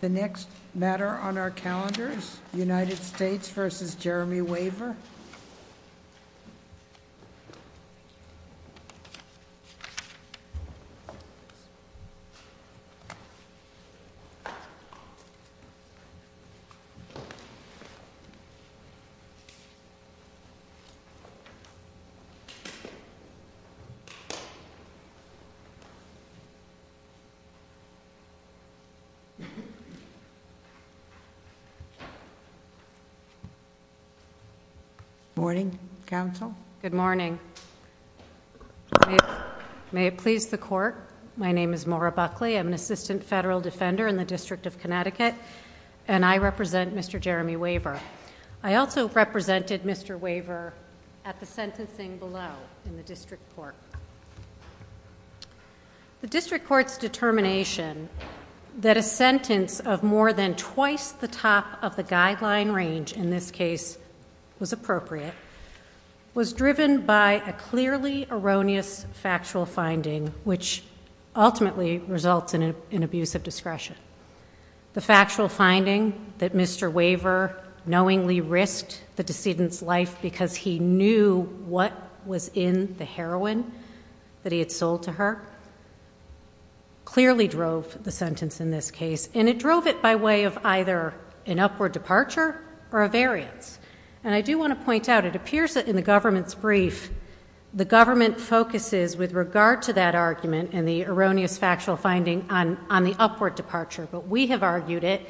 The next matter on our calendars, United States v. Jeremy Waver. Good morning, counsel. Good morning. May it please the court, my name is Maura Buckley, I'm an assistant federal defender in the District of Connecticut and I represent Mr. Jeremy Waver. I also represented Mr. Waver at the sentencing below in the District Court. The District Court's determination that a sentence of more than twice the top of the guideline range in this case was appropriate was driven by a clearly erroneous factual finding which ultimately results in an abuse of discretion. The factual finding that Mr. Waver knowingly risked the decedent's life because he knew what was in the heroin that he had sold to her clearly drove the sentence in this case. And it drove it by way of either an upward departure or a variance. And I do want to point out, it appears that in the government's brief the government focuses with regard to that argument and the erroneous factual finding on the upward departure, but we have argued it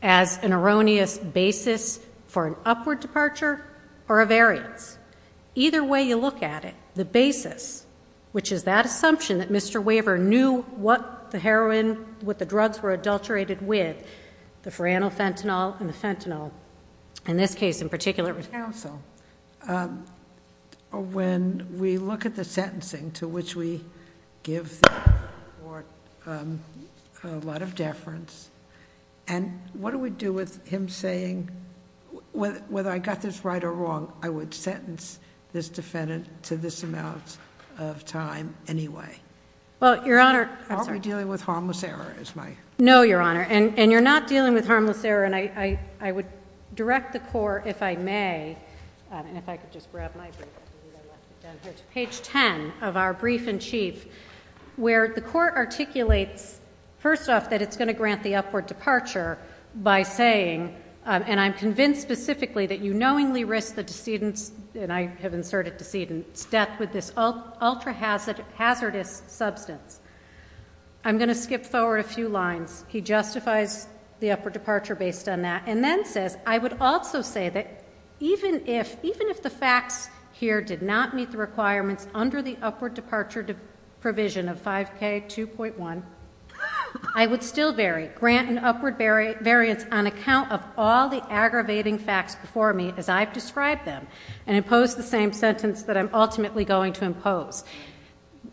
as an erroneous basis for an upward departure or a variance. Either way you look at it, the basis, which is that assumption that Mr. Waver knew what the heroin, what the drugs were adulterated with, the foranofentanil and the fentanyl. In this case in particular- Counsel, when we look at the sentencing to which we give the court a lot of deference, and what do we do with him saying, whether I got this right or wrong, I would sentence this defendant to this amount of time anyway? Well, Your Honor- Aren't we dealing with harmless error is my- No, Your Honor. And you're not dealing with harmless error. And I would direct the court, if I may, and if I could just grab my brief, I think I left it down here, to page ten of our brief in chief. Where the court articulates, first off, that it's going to grant the upward departure by saying, and I'm convinced specifically that you knowingly risk the decedent's, and I have inserted decedent's, death with this ultra hazardous substance. I'm going to skip forward a few lines. He justifies the upward departure based on that. And then says, I would also say that even if the facts here did not meet the requirements under the upward departure provision of 5k 2.1, I would still grant an upward variance on account of all the aggravating facts before me, as I've described them, and impose the same sentence that I'm ultimately going to impose.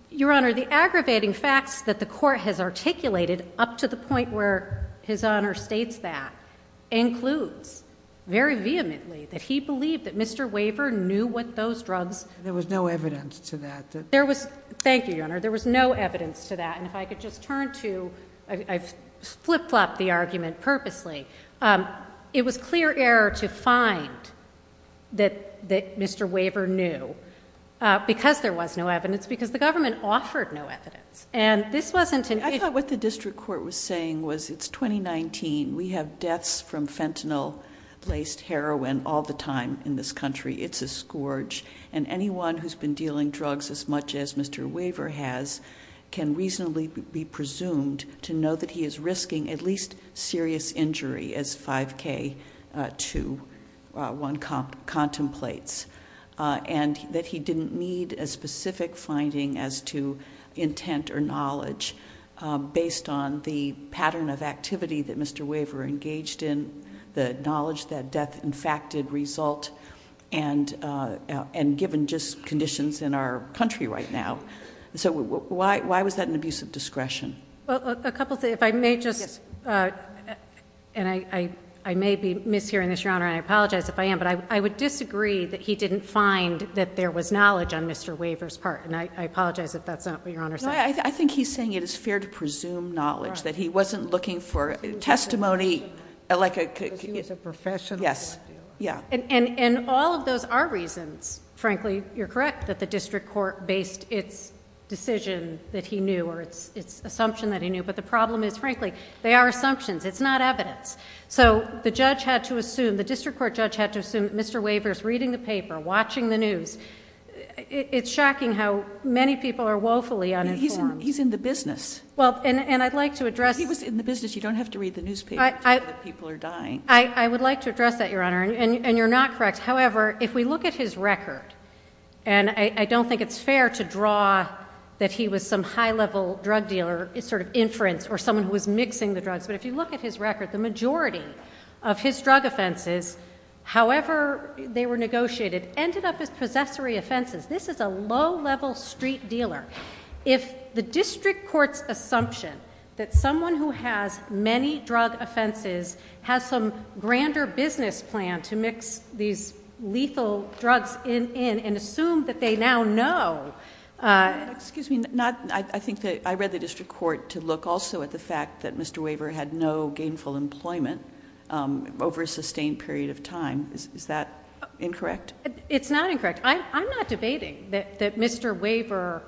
Your Honor, the aggravating facts that the court has articulated up to the point where his honor states that, includes very vehemently that he believed that Mr. Waver knew what those drugs- There was no evidence to that. Thank you, Your Honor. There was no evidence to that. And if I could just turn to, I've flip-flopped the argument purposely. It was clear error to find that Mr. Waver knew, because there was no evidence, because the government offered no evidence. And this wasn't- I thought what the district court was saying was it's 2019. We have deaths from fentanyl-laced heroin all the time in this country. It's a scourge. And anyone who's been dealing drugs as much as Mr. Waver has can reasonably be presumed to know that he is risking at least serious injury as 5K21 contemplates. And that he didn't need a specific finding as to intent or knowledge based on the pattern of activity that Mr. Waver engaged in, the knowledge that death in fact did result, and given just conditions in our country right now. So why was that an abuse of discretion? A couple of things. If I may just, and I may be mishearing this, Your Honor, and I apologize if I am. But I would disagree that he didn't find that there was knowledge on Mr. Waver's part. And I apologize if that's not what Your Honor said. No, I think he's saying it is fair to presume knowledge. That he wasn't looking for testimony. Like a- Because he was a professional drug dealer. Yes, yeah. And all of those are reasons, frankly, you're correct, that the district court based its decision that he knew or its assumption that he knew. But the problem is, frankly, they are assumptions. It's not evidence. So the judge had to assume, the district court judge had to assume that Mr. Waver's reading the paper, watching the news, it's shocking how many people are woefully uninformed. He's in the business. Well, and I'd like to address- He was in the business. You don't have to read the newspaper to know that people are dying. I would like to address that, Your Honor, and you're not correct. However, if we look at his record, and I don't think it's fair to draw that he was some high level drug dealer, sort of inference, or someone who was mixing the drugs. But if you look at his record, the majority of his drug offenses, however they were negotiated, ended up as possessory offenses. This is a low level street dealer. If the district court's assumption that someone who has many drug offenses has some grander business plan to mix these lethal drugs in, and assume that they now know. Excuse me, I think that I read the district court to look also at the fact that Mr. Waver had no gainful employment over a sustained period of time. Is that incorrect? It's not incorrect. I'm not debating that Mr. Waver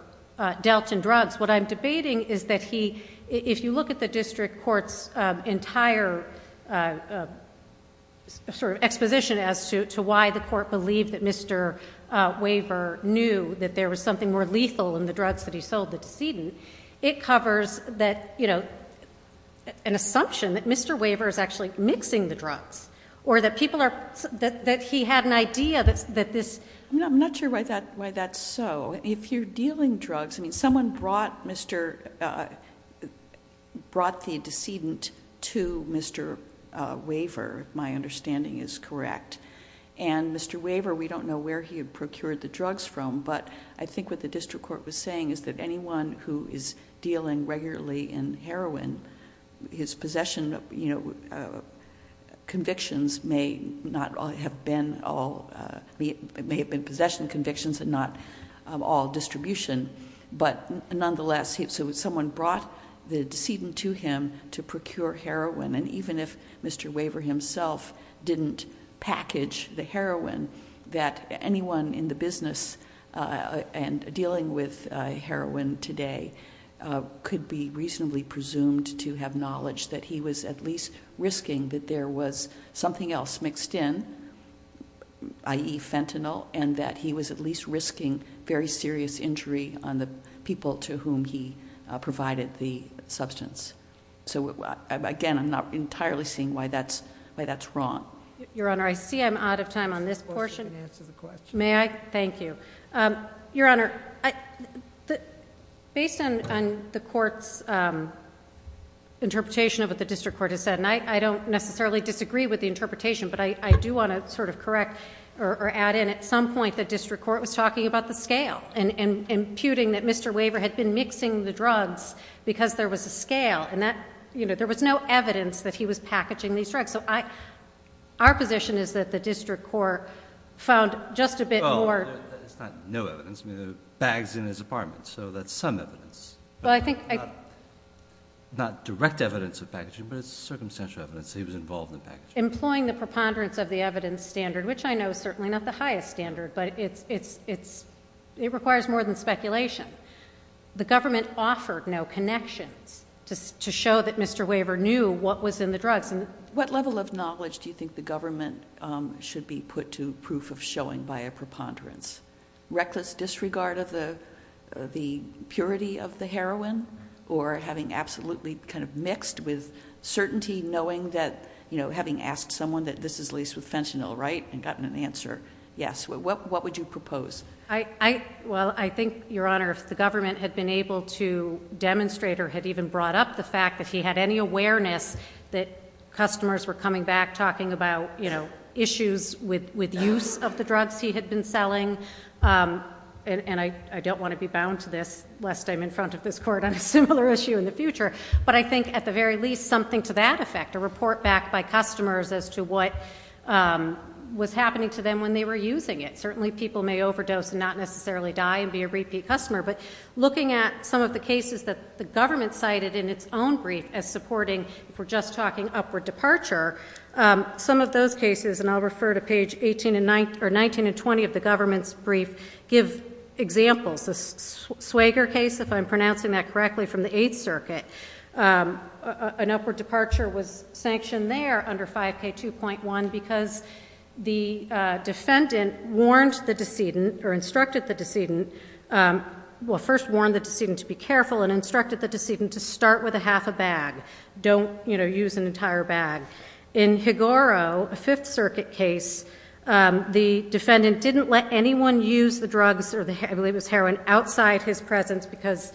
dealt in drugs. What I'm debating is that he, if you look at the district court's entire sort of exposition as to why the court believed that Mr. Waver knew that there was something more lethal in the drugs that he sold the decedent. It covers an assumption that Mr. Waver is actually mixing the drugs, or that he had an idea that this. I'm not sure why that's so. If you're dealing drugs, I mean, someone brought the decedent to Mr. Waver, my understanding is correct. And Mr. Waver, we don't know where he had procured the drugs from. But I think what the district court was saying is that anyone who is dealing regularly in heroin, his possession convictions may not have been all, it may have been possession convictions and not all distribution. But nonetheless, so someone brought the decedent to him to procure heroin. And even if Mr. Waver himself didn't package the heroin, today could be reasonably presumed to have knowledge that he was at least risking that there was something else mixed in, i.e. fentanyl, and that he was at least risking very serious injury on the people to whom he provided the substance. So again, I'm not entirely seeing why that's wrong. Your Honor, I see I'm out of time on this portion. You can answer the question. May I? Thank you. Your Honor, based on the court's interpretation of what the district court has said, and I don't necessarily disagree with the interpretation, but I do want to sort of correct or add in at some point the district court was talking about the scale and imputing that Mr. Waver had been mixing the drugs because there was a scale and there was no evidence that he was packaging these drugs. So our position is that the district court found just a bit more. It's not no evidence, bags in his apartment, so that's some evidence. Not direct evidence of packaging, but it's circumstantial evidence that he was involved in packaging. Employing the preponderance of the evidence standard, which I know is certainly not the highest standard, but it requires more than speculation. The government offered no connections to show that Mr. Waver knew what was in the drugs. What level of knowledge do you think the government should be put to proof of showing by a preponderance? Reckless disregard of the purity of the heroin? Or having absolutely kind of mixed with certainty knowing that, having asked someone that this is at least with fentanyl, right, and gotten an answer. Yes, what would you propose? Well, I think, Your Honor, if the government had been able to demonstrate or had even brought up the fact that he had any awareness that customers were coming back talking about issues with use of the drugs he had been selling, and I don't want to be bound to this lest I'm in front of this court on a similar issue in the future. But I think at the very least something to that effect, a report back by customers as to what was happening to them when they were using it. Certainly people may overdose and not necessarily die and be a repeat customer, but looking at some of the cases that the government cited in its own brief as supporting, if we're just talking upward departure. Some of those cases, and I'll refer to page 19 and 20 of the government's brief, give examples. The Swager case, if I'm pronouncing that correctly, from the Eighth Circuit. An upward departure was sanctioned there under 5K2.1 because the defendant warned the decedent, or instructed the decedent. Well, first warned the decedent to be careful and instructed the decedent to start with a half a bag. Don't use an entire bag. In Higoro, a Fifth Circuit case, the defendant didn't let anyone use the drugs, I believe it was heroin, outside his presence because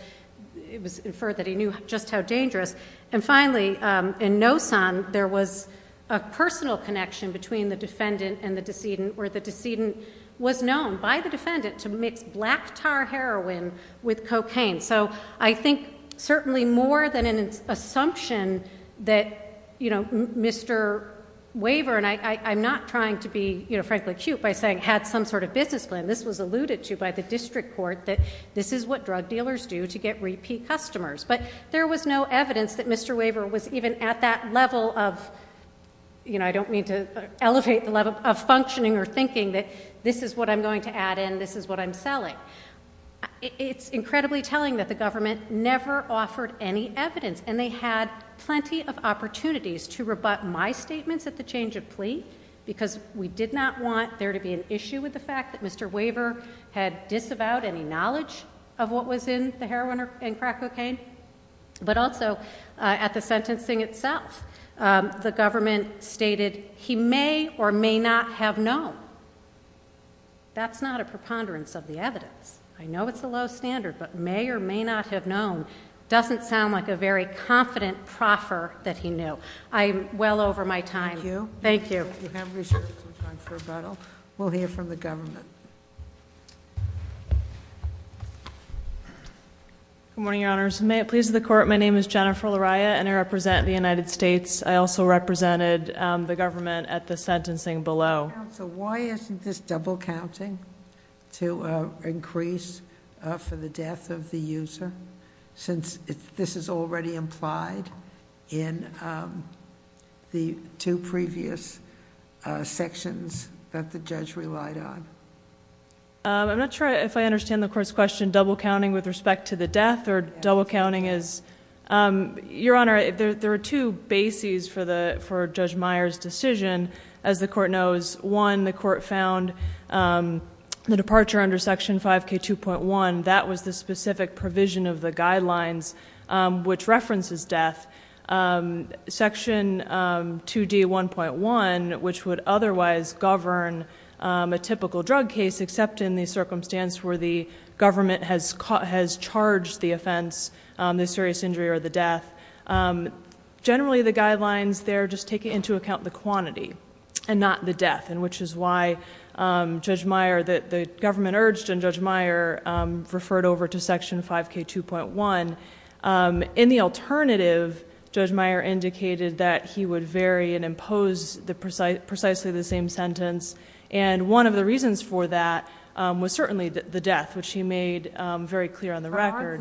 it was inferred that he knew just how dangerous. And finally, in Nosson, there was a personal connection between the defendant and the decedent, where the decedent was known by the defendant to mix black tar heroin with cocaine. So I think certainly more than an assumption that Mr. Waver, and I'm not trying to be frankly cute by saying had some sort of business plan. This was alluded to by the district court that this is what drug dealers do to get repeat customers. But there was no evidence that Mr. Waver was even at that level of, I don't mean to elevate the level of functioning or thinking that this is what I'm going to add in, this is what I'm selling. It's incredibly telling that the government never offered any evidence, and they had plenty of opportunities to rebut my statements at the change of plea. Because we did not want there to be an issue with the fact that Mr. Waver had disavowed any knowledge of what was in the heroin and crack cocaine. But also at the sentencing itself, the government stated he may or may not have known. That's not a preponderance of the evidence. I know it's a low standard, but may or may not have known doesn't sound like a very confident proffer that he knew. I'm well over my time. Thank you. Thank you. Thank you, have a good time for rebuttal. We'll hear from the government. Good morning, your honors. May it please the court, my name is Jennifer Lariah, and I represent the United States. I also represented the government at the sentencing below. So why isn't this double counting to increase for the death of the user, since this is already implied in the two previous sections that the judge relied on? I'm not sure if I understand the court's question, double counting with respect to the death, or double counting is. Your honor, there are two bases for Judge Meyer's decision. As the court knows, one, the court found the departure under section 5k2.1, that was the specific provision of the guidelines which references death. Section 2D1.1, which would otherwise govern a typical drug case, except in the circumstance where the government has charged the offense, the serious injury or the death. Generally, the guidelines there just take into account the quantity, and not the death. And which is why Judge Meyer, that the government urged, and Judge Meyer referred over to section 5k2.1. In the alternative, Judge Meyer indicated that he would vary and impose precisely the same sentence. And one of the reasons for that was certainly the death, which he made very clear on the record.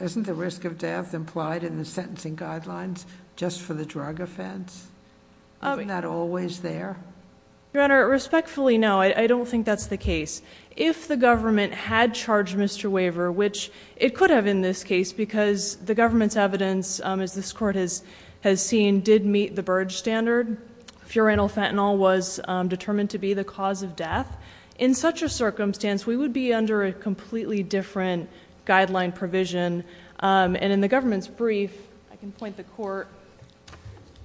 Isn't the risk of death implied in the sentencing guidelines just for the drug offense? Isn't that always there? Your honor, respectfully, no, I don't think that's the case. If the government had charged Mr. Waver, which it could have in this case, because the government's evidence, as this court has seen, did meet the Burge standard. Furanyl fentanyl was determined to be the cause of death. In such a circumstance, we would be under a completely different guideline provision. And in the government's brief, I can point the court,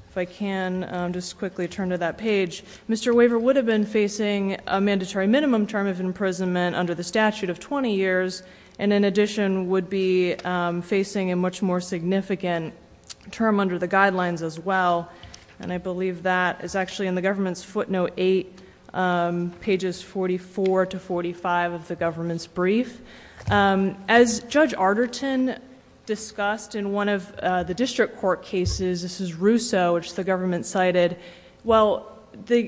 if I can just quickly turn to that page. Mr. Waver would have been facing a mandatory minimum term of imprisonment under the statute of 20 years. And in addition, would be facing a much more significant term under the guidelines as well. And I believe that is actually in the government's footnote eight, pages 44 to 45 of the government's brief. As Judge Arterton discussed in one of the district court cases, this is Russo, which the government cited. Well, the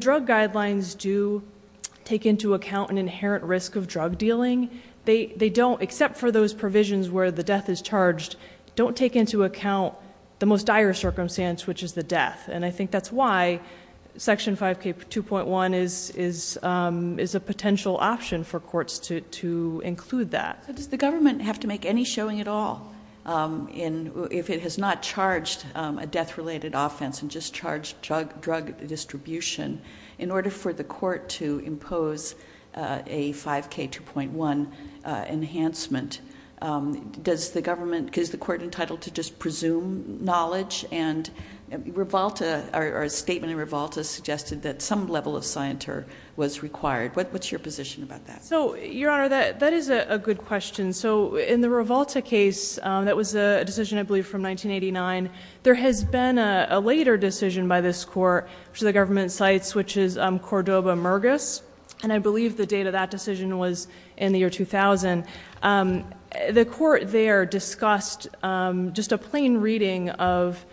drug guidelines do take into account an inherent risk of drug dealing. They don't, except for those provisions where the death is charged, don't take into account the most dire circumstance, which is the death. And I think that's why section 5K2.1 is a potential option for courts to include that. Does the government have to make any showing at all if it has not charged a death-related offense and just charged drug distribution in order for the court to impose a 5K2.1 enhancement? Does the government, is the court entitled to just presume knowledge? And Rivalta, or a statement in Rivalta suggested that some level of scienter was required. What's your position about that? So, your honor, that is a good question. So, in the Rivalta case, that was a decision, I believe, from 1989. There has been a later decision by this court, which the government cites, which is Cordova-Murgis. And I believe the date of that decision was in the year 2000. The court there discussed just a plain reading of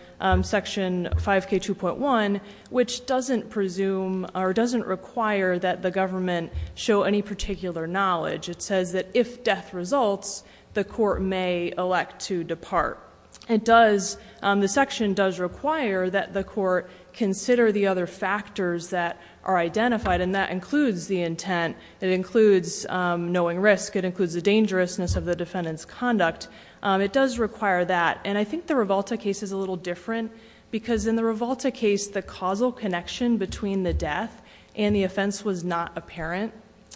section 5K2.1, which doesn't presume or doesn't require that the government show any particular knowledge. It says that if death results, the court may elect to depart. It does, the section does require that the court consider the other factors that are identified. And that includes the intent, it includes knowing risk, it includes the dangerousness of the defendant's conduct. It does require that. And I think the Rivalta case is a little different, because in the Rivalta case, the causal connection between the death and the offense was not apparent.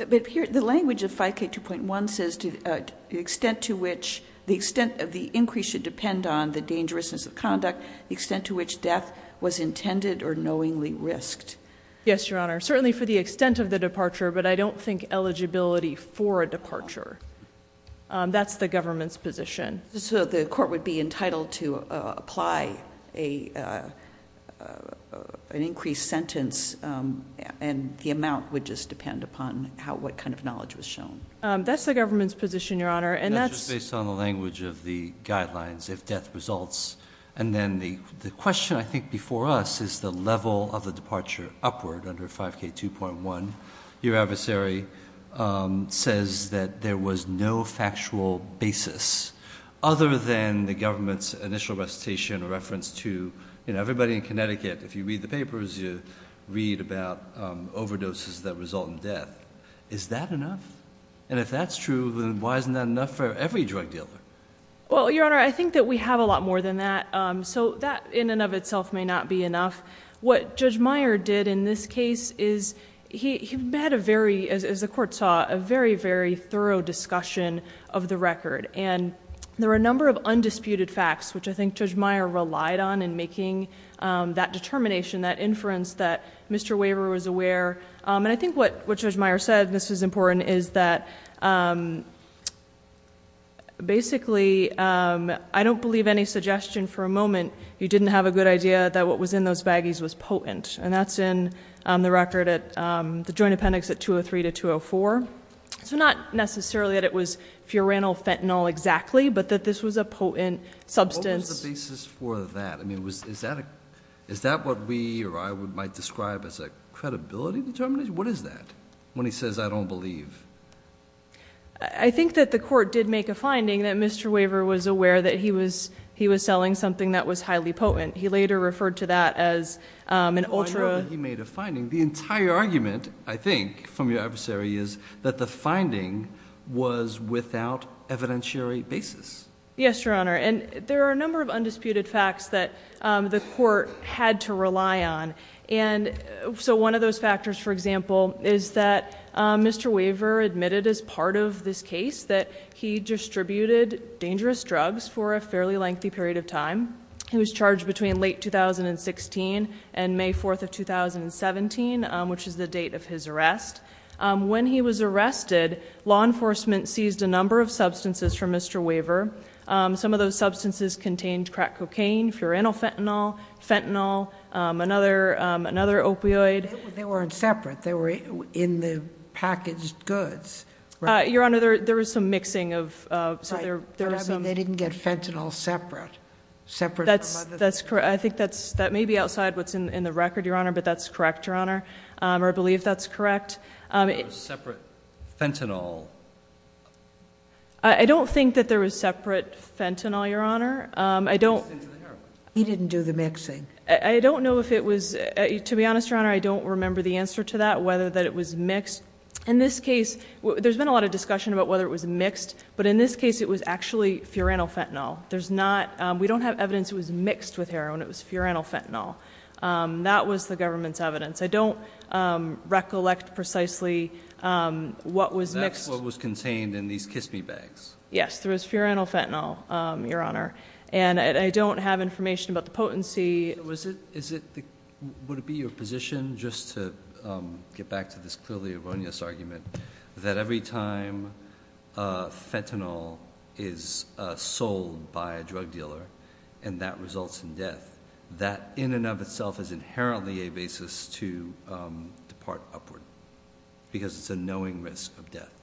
But here, the language of 5K2.1 says to the extent to which, the extent of the increase should depend on the dangerousness of conduct, the extent to which death was intended or knowingly risked. Yes, Your Honor. Certainly for the extent of the departure, but I don't think eligibility for a departure. That's the government's position. So the court would be entitled to apply an increased sentence, and the amount would just depend upon what kind of knowledge was shown. That's the government's position, Your Honor, and that's- That's just based on the language of the guidelines, if death results. And then the question I think before us is the level of the departure upward under 5K2.1. Your adversary says that there was no factual basis, other than the government's initial recitation or reference to everybody in Connecticut. If you read the papers, you read about overdoses that result in death. Is that enough? And if that's true, then why isn't that enough for every drug dealer? Well, Your Honor, I think that we have a lot more than that. So that in and of itself may not be enough. What Judge Meyer did in this case is he had a very, as the court saw, a very, very thorough discussion of the record. And there were a number of undisputed facts, which I think Judge Meyer relied on in making that determination, that inference that Mr. Waver was aware. And I think what Judge Meyer said, and this is important, is that basically, I don't believe any suggestion for a moment. You didn't have a good idea that what was in those baggies was potent. And that's in the record at the joint appendix at 203 to 204. So not necessarily that it was furanyl, fentanyl exactly, but that this was a potent substance. What was the basis for that? I mean, is that what we or I might describe as a credibility determination? What is that? When he says I don't believe. I think that the court did make a finding that Mr. Waver was aware that he was selling something that was highly potent. He later referred to that as an ultra- I know that he made a finding. The entire argument, I think, from your adversary is that the finding was without evidentiary basis. Yes, Your Honor, and there are a number of undisputed facts that the court had to rely on. And so one of those factors, for example, is that Mr. Waver admitted as part of this case that he distributed dangerous drugs for a fairly lengthy period of time. He was charged between late 2016 and May 4th of 2017, which is the date of his arrest. When he was arrested, law enforcement seized a number of substances from Mr. Waver. Some of those substances contained crack cocaine, furanyl fentanyl, fentanyl, another opioid- They weren't separate. They were in the packaged goods, right? Your Honor, there was some mixing of, so there was some- But I mean, they didn't get fentanyl separate. Separate from other- That's correct. I think that may be outside what's in the record, Your Honor, but that's correct, Your Honor. Or I believe that's correct. There was separate fentanyl. I don't think that there was separate fentanyl, Your Honor. I don't- He didn't do the mixing. I don't know if it was, to be honest, Your Honor, I don't remember the answer to that, whether that it was mixed. In this case, there's been a lot of discussion about whether it was mixed, but in this case, it was actually furanyl fentanyl. There's not, we don't have evidence it was mixed with heroin. It was furanyl fentanyl. That was the government's evidence. I don't recollect precisely what was mixed- That's what was contained in these Kiss Me bags. Yes, there was furanyl fentanyl, Your Honor. And I don't have information about the potency. Was it, would it be your position, just to get back to this clearly erroneous argument, that every time fentanyl is sold by a drug dealer and that results in death, that in and of itself is inherently a basis to depart upward. Because it's a knowing risk of death.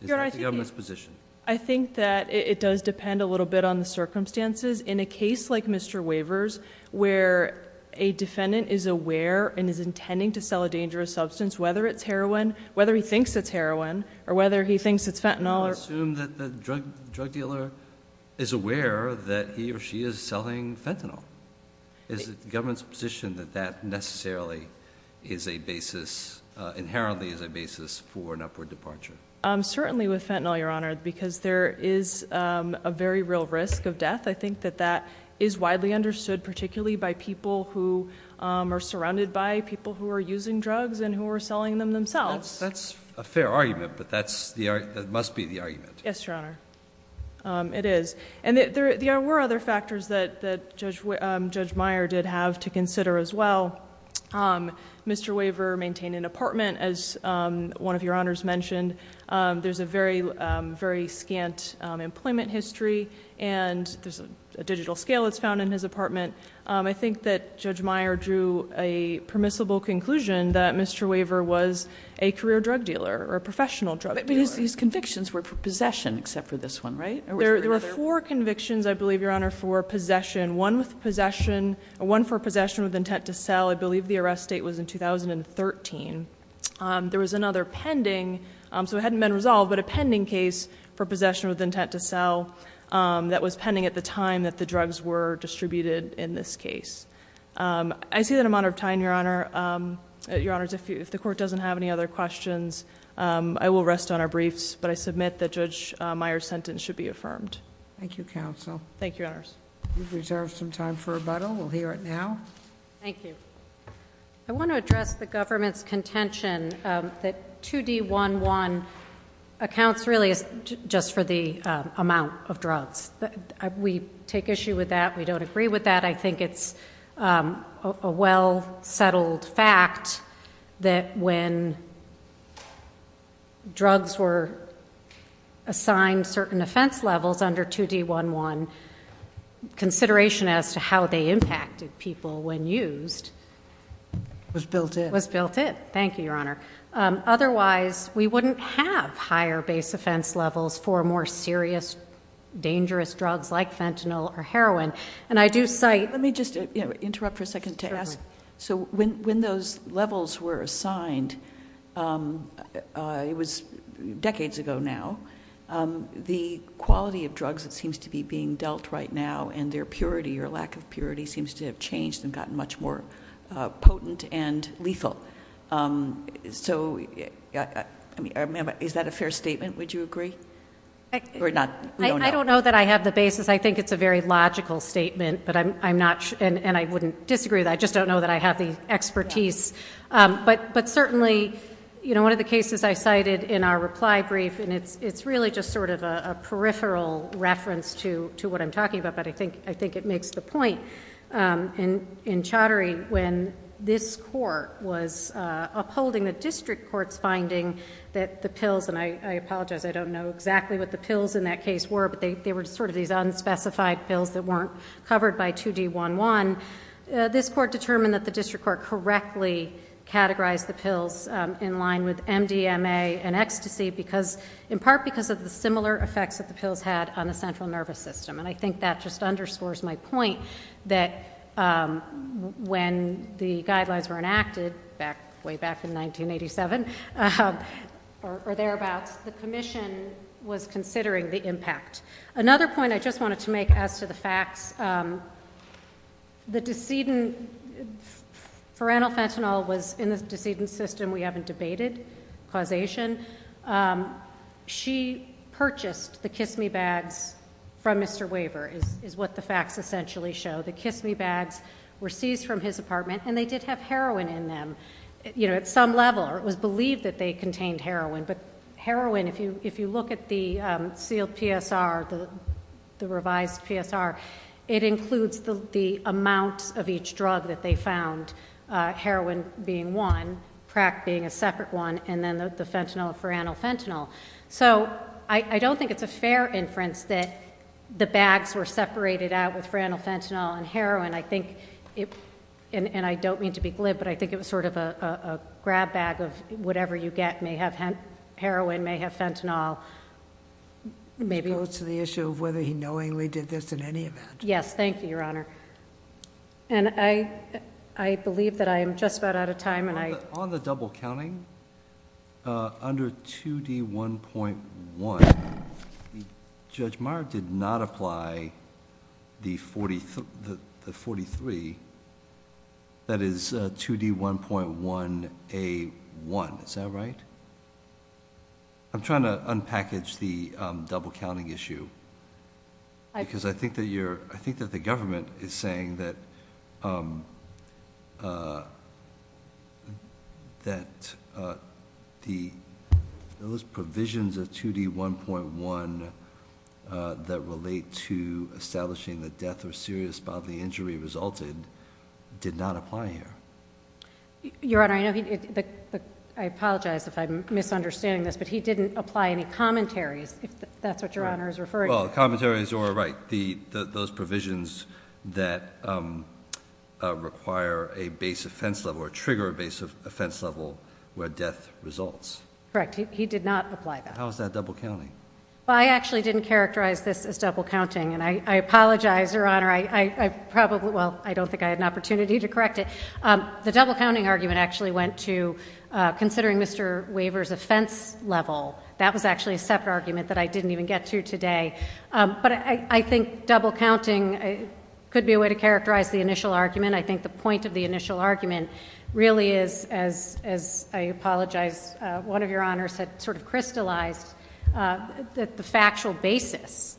Is that the government's position? I think that it does depend a little bit on the circumstances. In a case like Mr. Waver's, where a defendant is aware and is intending to sell a dangerous substance, whether it's heroin, whether he thinks it's heroin, or whether he thinks it's fentanyl- I assume that the drug dealer is aware that he or she is selling fentanyl. Is it the government's position that that necessarily is a basis, inherently is a basis for an upward departure? Certainly with fentanyl, Your Honor, because there is a very real risk of death. I think that that is widely understood, particularly by people who are surrounded by people who are using drugs and who are selling them themselves. That's a fair argument, but that must be the argument. Yes, Your Honor, it is. And there were other factors that Judge Meyer did have to consider as well. Mr. Waver maintained an apartment, as one of your honors mentioned. There's a very, very scant employment history, and there's a digital scale that's found in his apartment. I think that Judge Meyer drew a permissible conclusion that Mr. Waver was a career drug dealer, or a professional drug dealer. But his convictions were for possession, except for this one, right? There were four convictions, I believe, Your Honor, for possession. One for possession with intent to sell, I believe the arrest date was in 2013. There was another pending, so it hadn't been resolved, but a pending case for possession with intent to sell that was pending at the time that the drugs were distributed in this case. I see that I'm out of time, Your Honors. If the court doesn't have any other questions, I will rest on our briefs, but I submit that Judge Meyer's sentence should be affirmed. Thank you, Counsel. Thank you, Honors. You've reserved some time for rebuttal. We'll hear it now. Thank you. I want to address the government's contention that 2D11 accounts really just for the amount of drugs. We take issue with that. We don't agree with that. I think it's a well settled fact that when drugs were assigned certain offense levels under 2D11, consideration as to how they impacted people when used- Was built in. Was built in, thank you, Your Honor. Otherwise, we wouldn't have higher base offense levels for more serious, dangerous drugs like fentanyl or heroin. And I do cite- Let me just interrupt for a second to ask. So when those levels were assigned, it was decades ago now. The quality of drugs that seems to be being dealt right now and their purity or lack of purity seems to have changed and gotten much more potent and lethal. So, is that a fair statement, would you agree? Or not? I don't know that I have the basis. I think it's a very logical statement, and I wouldn't disagree with that. I just don't know that I have the expertise. But certainly, one of the cases I cited in our reply brief, and it's really just sort of a peripheral reference to what I'm talking about. But I think it makes the point in Chaudhary, when this court was upholding the district court's finding that the pills, and I apologize, I don't know exactly what the pills in that case were. But they were sort of these unspecified pills that weren't covered by 2D11. This court determined that the district court correctly categorized the pills in line with MDMA and ecstasy in part because of the similar effects that the pills had on the central nervous system. And I think that just underscores my point that when the guidelines were enacted, way back in 1987, or thereabouts, the commission was considering the impact. Another point I just wanted to make as to the facts, the decedent, for Annel Fentanyl was in the decedent system we haven't debated, causation. She purchased the Kiss Me bags from Mr. Waver, is what the facts essentially show. The Kiss Me bags were seized from his apartment, and they did have heroin in them. At some level, it was believed that they contained heroin. But heroin, if you look at the sealed PSR, the revised PSR, it includes the amount of each drug that they found. Heroin being one, Prac being a separate one, and then the fentanyl, for Annel Fentanyl. So I don't think it's a fair inference that the bags were separated out with for Annel Fentanyl and heroin, and I don't mean to be glib, but I think it was sort of a grab bag of whatever you get may have heroin, may have fentanyl. Maybe- To the issue of whether he knowingly did this in any event. Yes, thank you, Your Honor. And I believe that I am just about out of time, and I- On the double counting, under 2D1.1, Judge Meier did not apply the 43, that is 2D1.1A1, is that right? I'm trying to unpackage the double counting issue. Because I think that the government is saying that those provisions of 2D1.1 that relate to establishing the death or serious bodily injury resulted, did not apply here. Your Honor, I apologize if I'm misunderstanding this, but he didn't apply any commentaries, if that's what Your Honor is referring to. Well, commentaries or, right, those provisions that require a base offense level or trigger a base offense level where death results. Correct, he did not apply that. How is that double counting? I actually didn't characterize this as double counting, and I apologize, Your Honor. I probably, well, I don't think I had an opportunity to correct it. The double counting argument actually went to considering Mr. Waver's offense level. That was actually a separate argument that I didn't even get to today. But I think double counting could be a way to characterize the initial argument. I think the point of the initial argument really is, as I apologize, one of your honors had sort of crystallized that the factual basis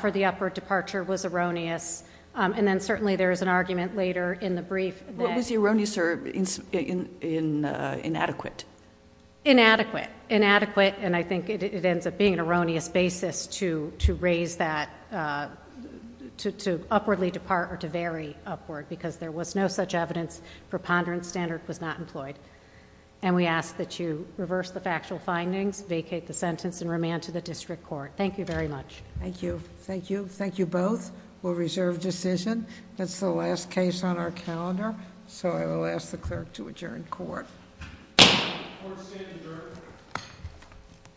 for the upward departure was erroneous, and then certainly there is an argument later in the brief that... What was the erroneous or inadequate? Inadequate. Inadequate, and I think it ends up being an erroneous basis to raise that... to upwardly depart or to vary upward, because there was no such evidence, preponderance standard was not employed. And we ask that you reverse the factual findings, vacate the sentence, and remand to the district court. Thank you very much. Thank you. Thank you. Thank you both. We'll reserve decision. That's the last case on our calendar, so I will ask the clerk to adjourn court. Court is adjourned.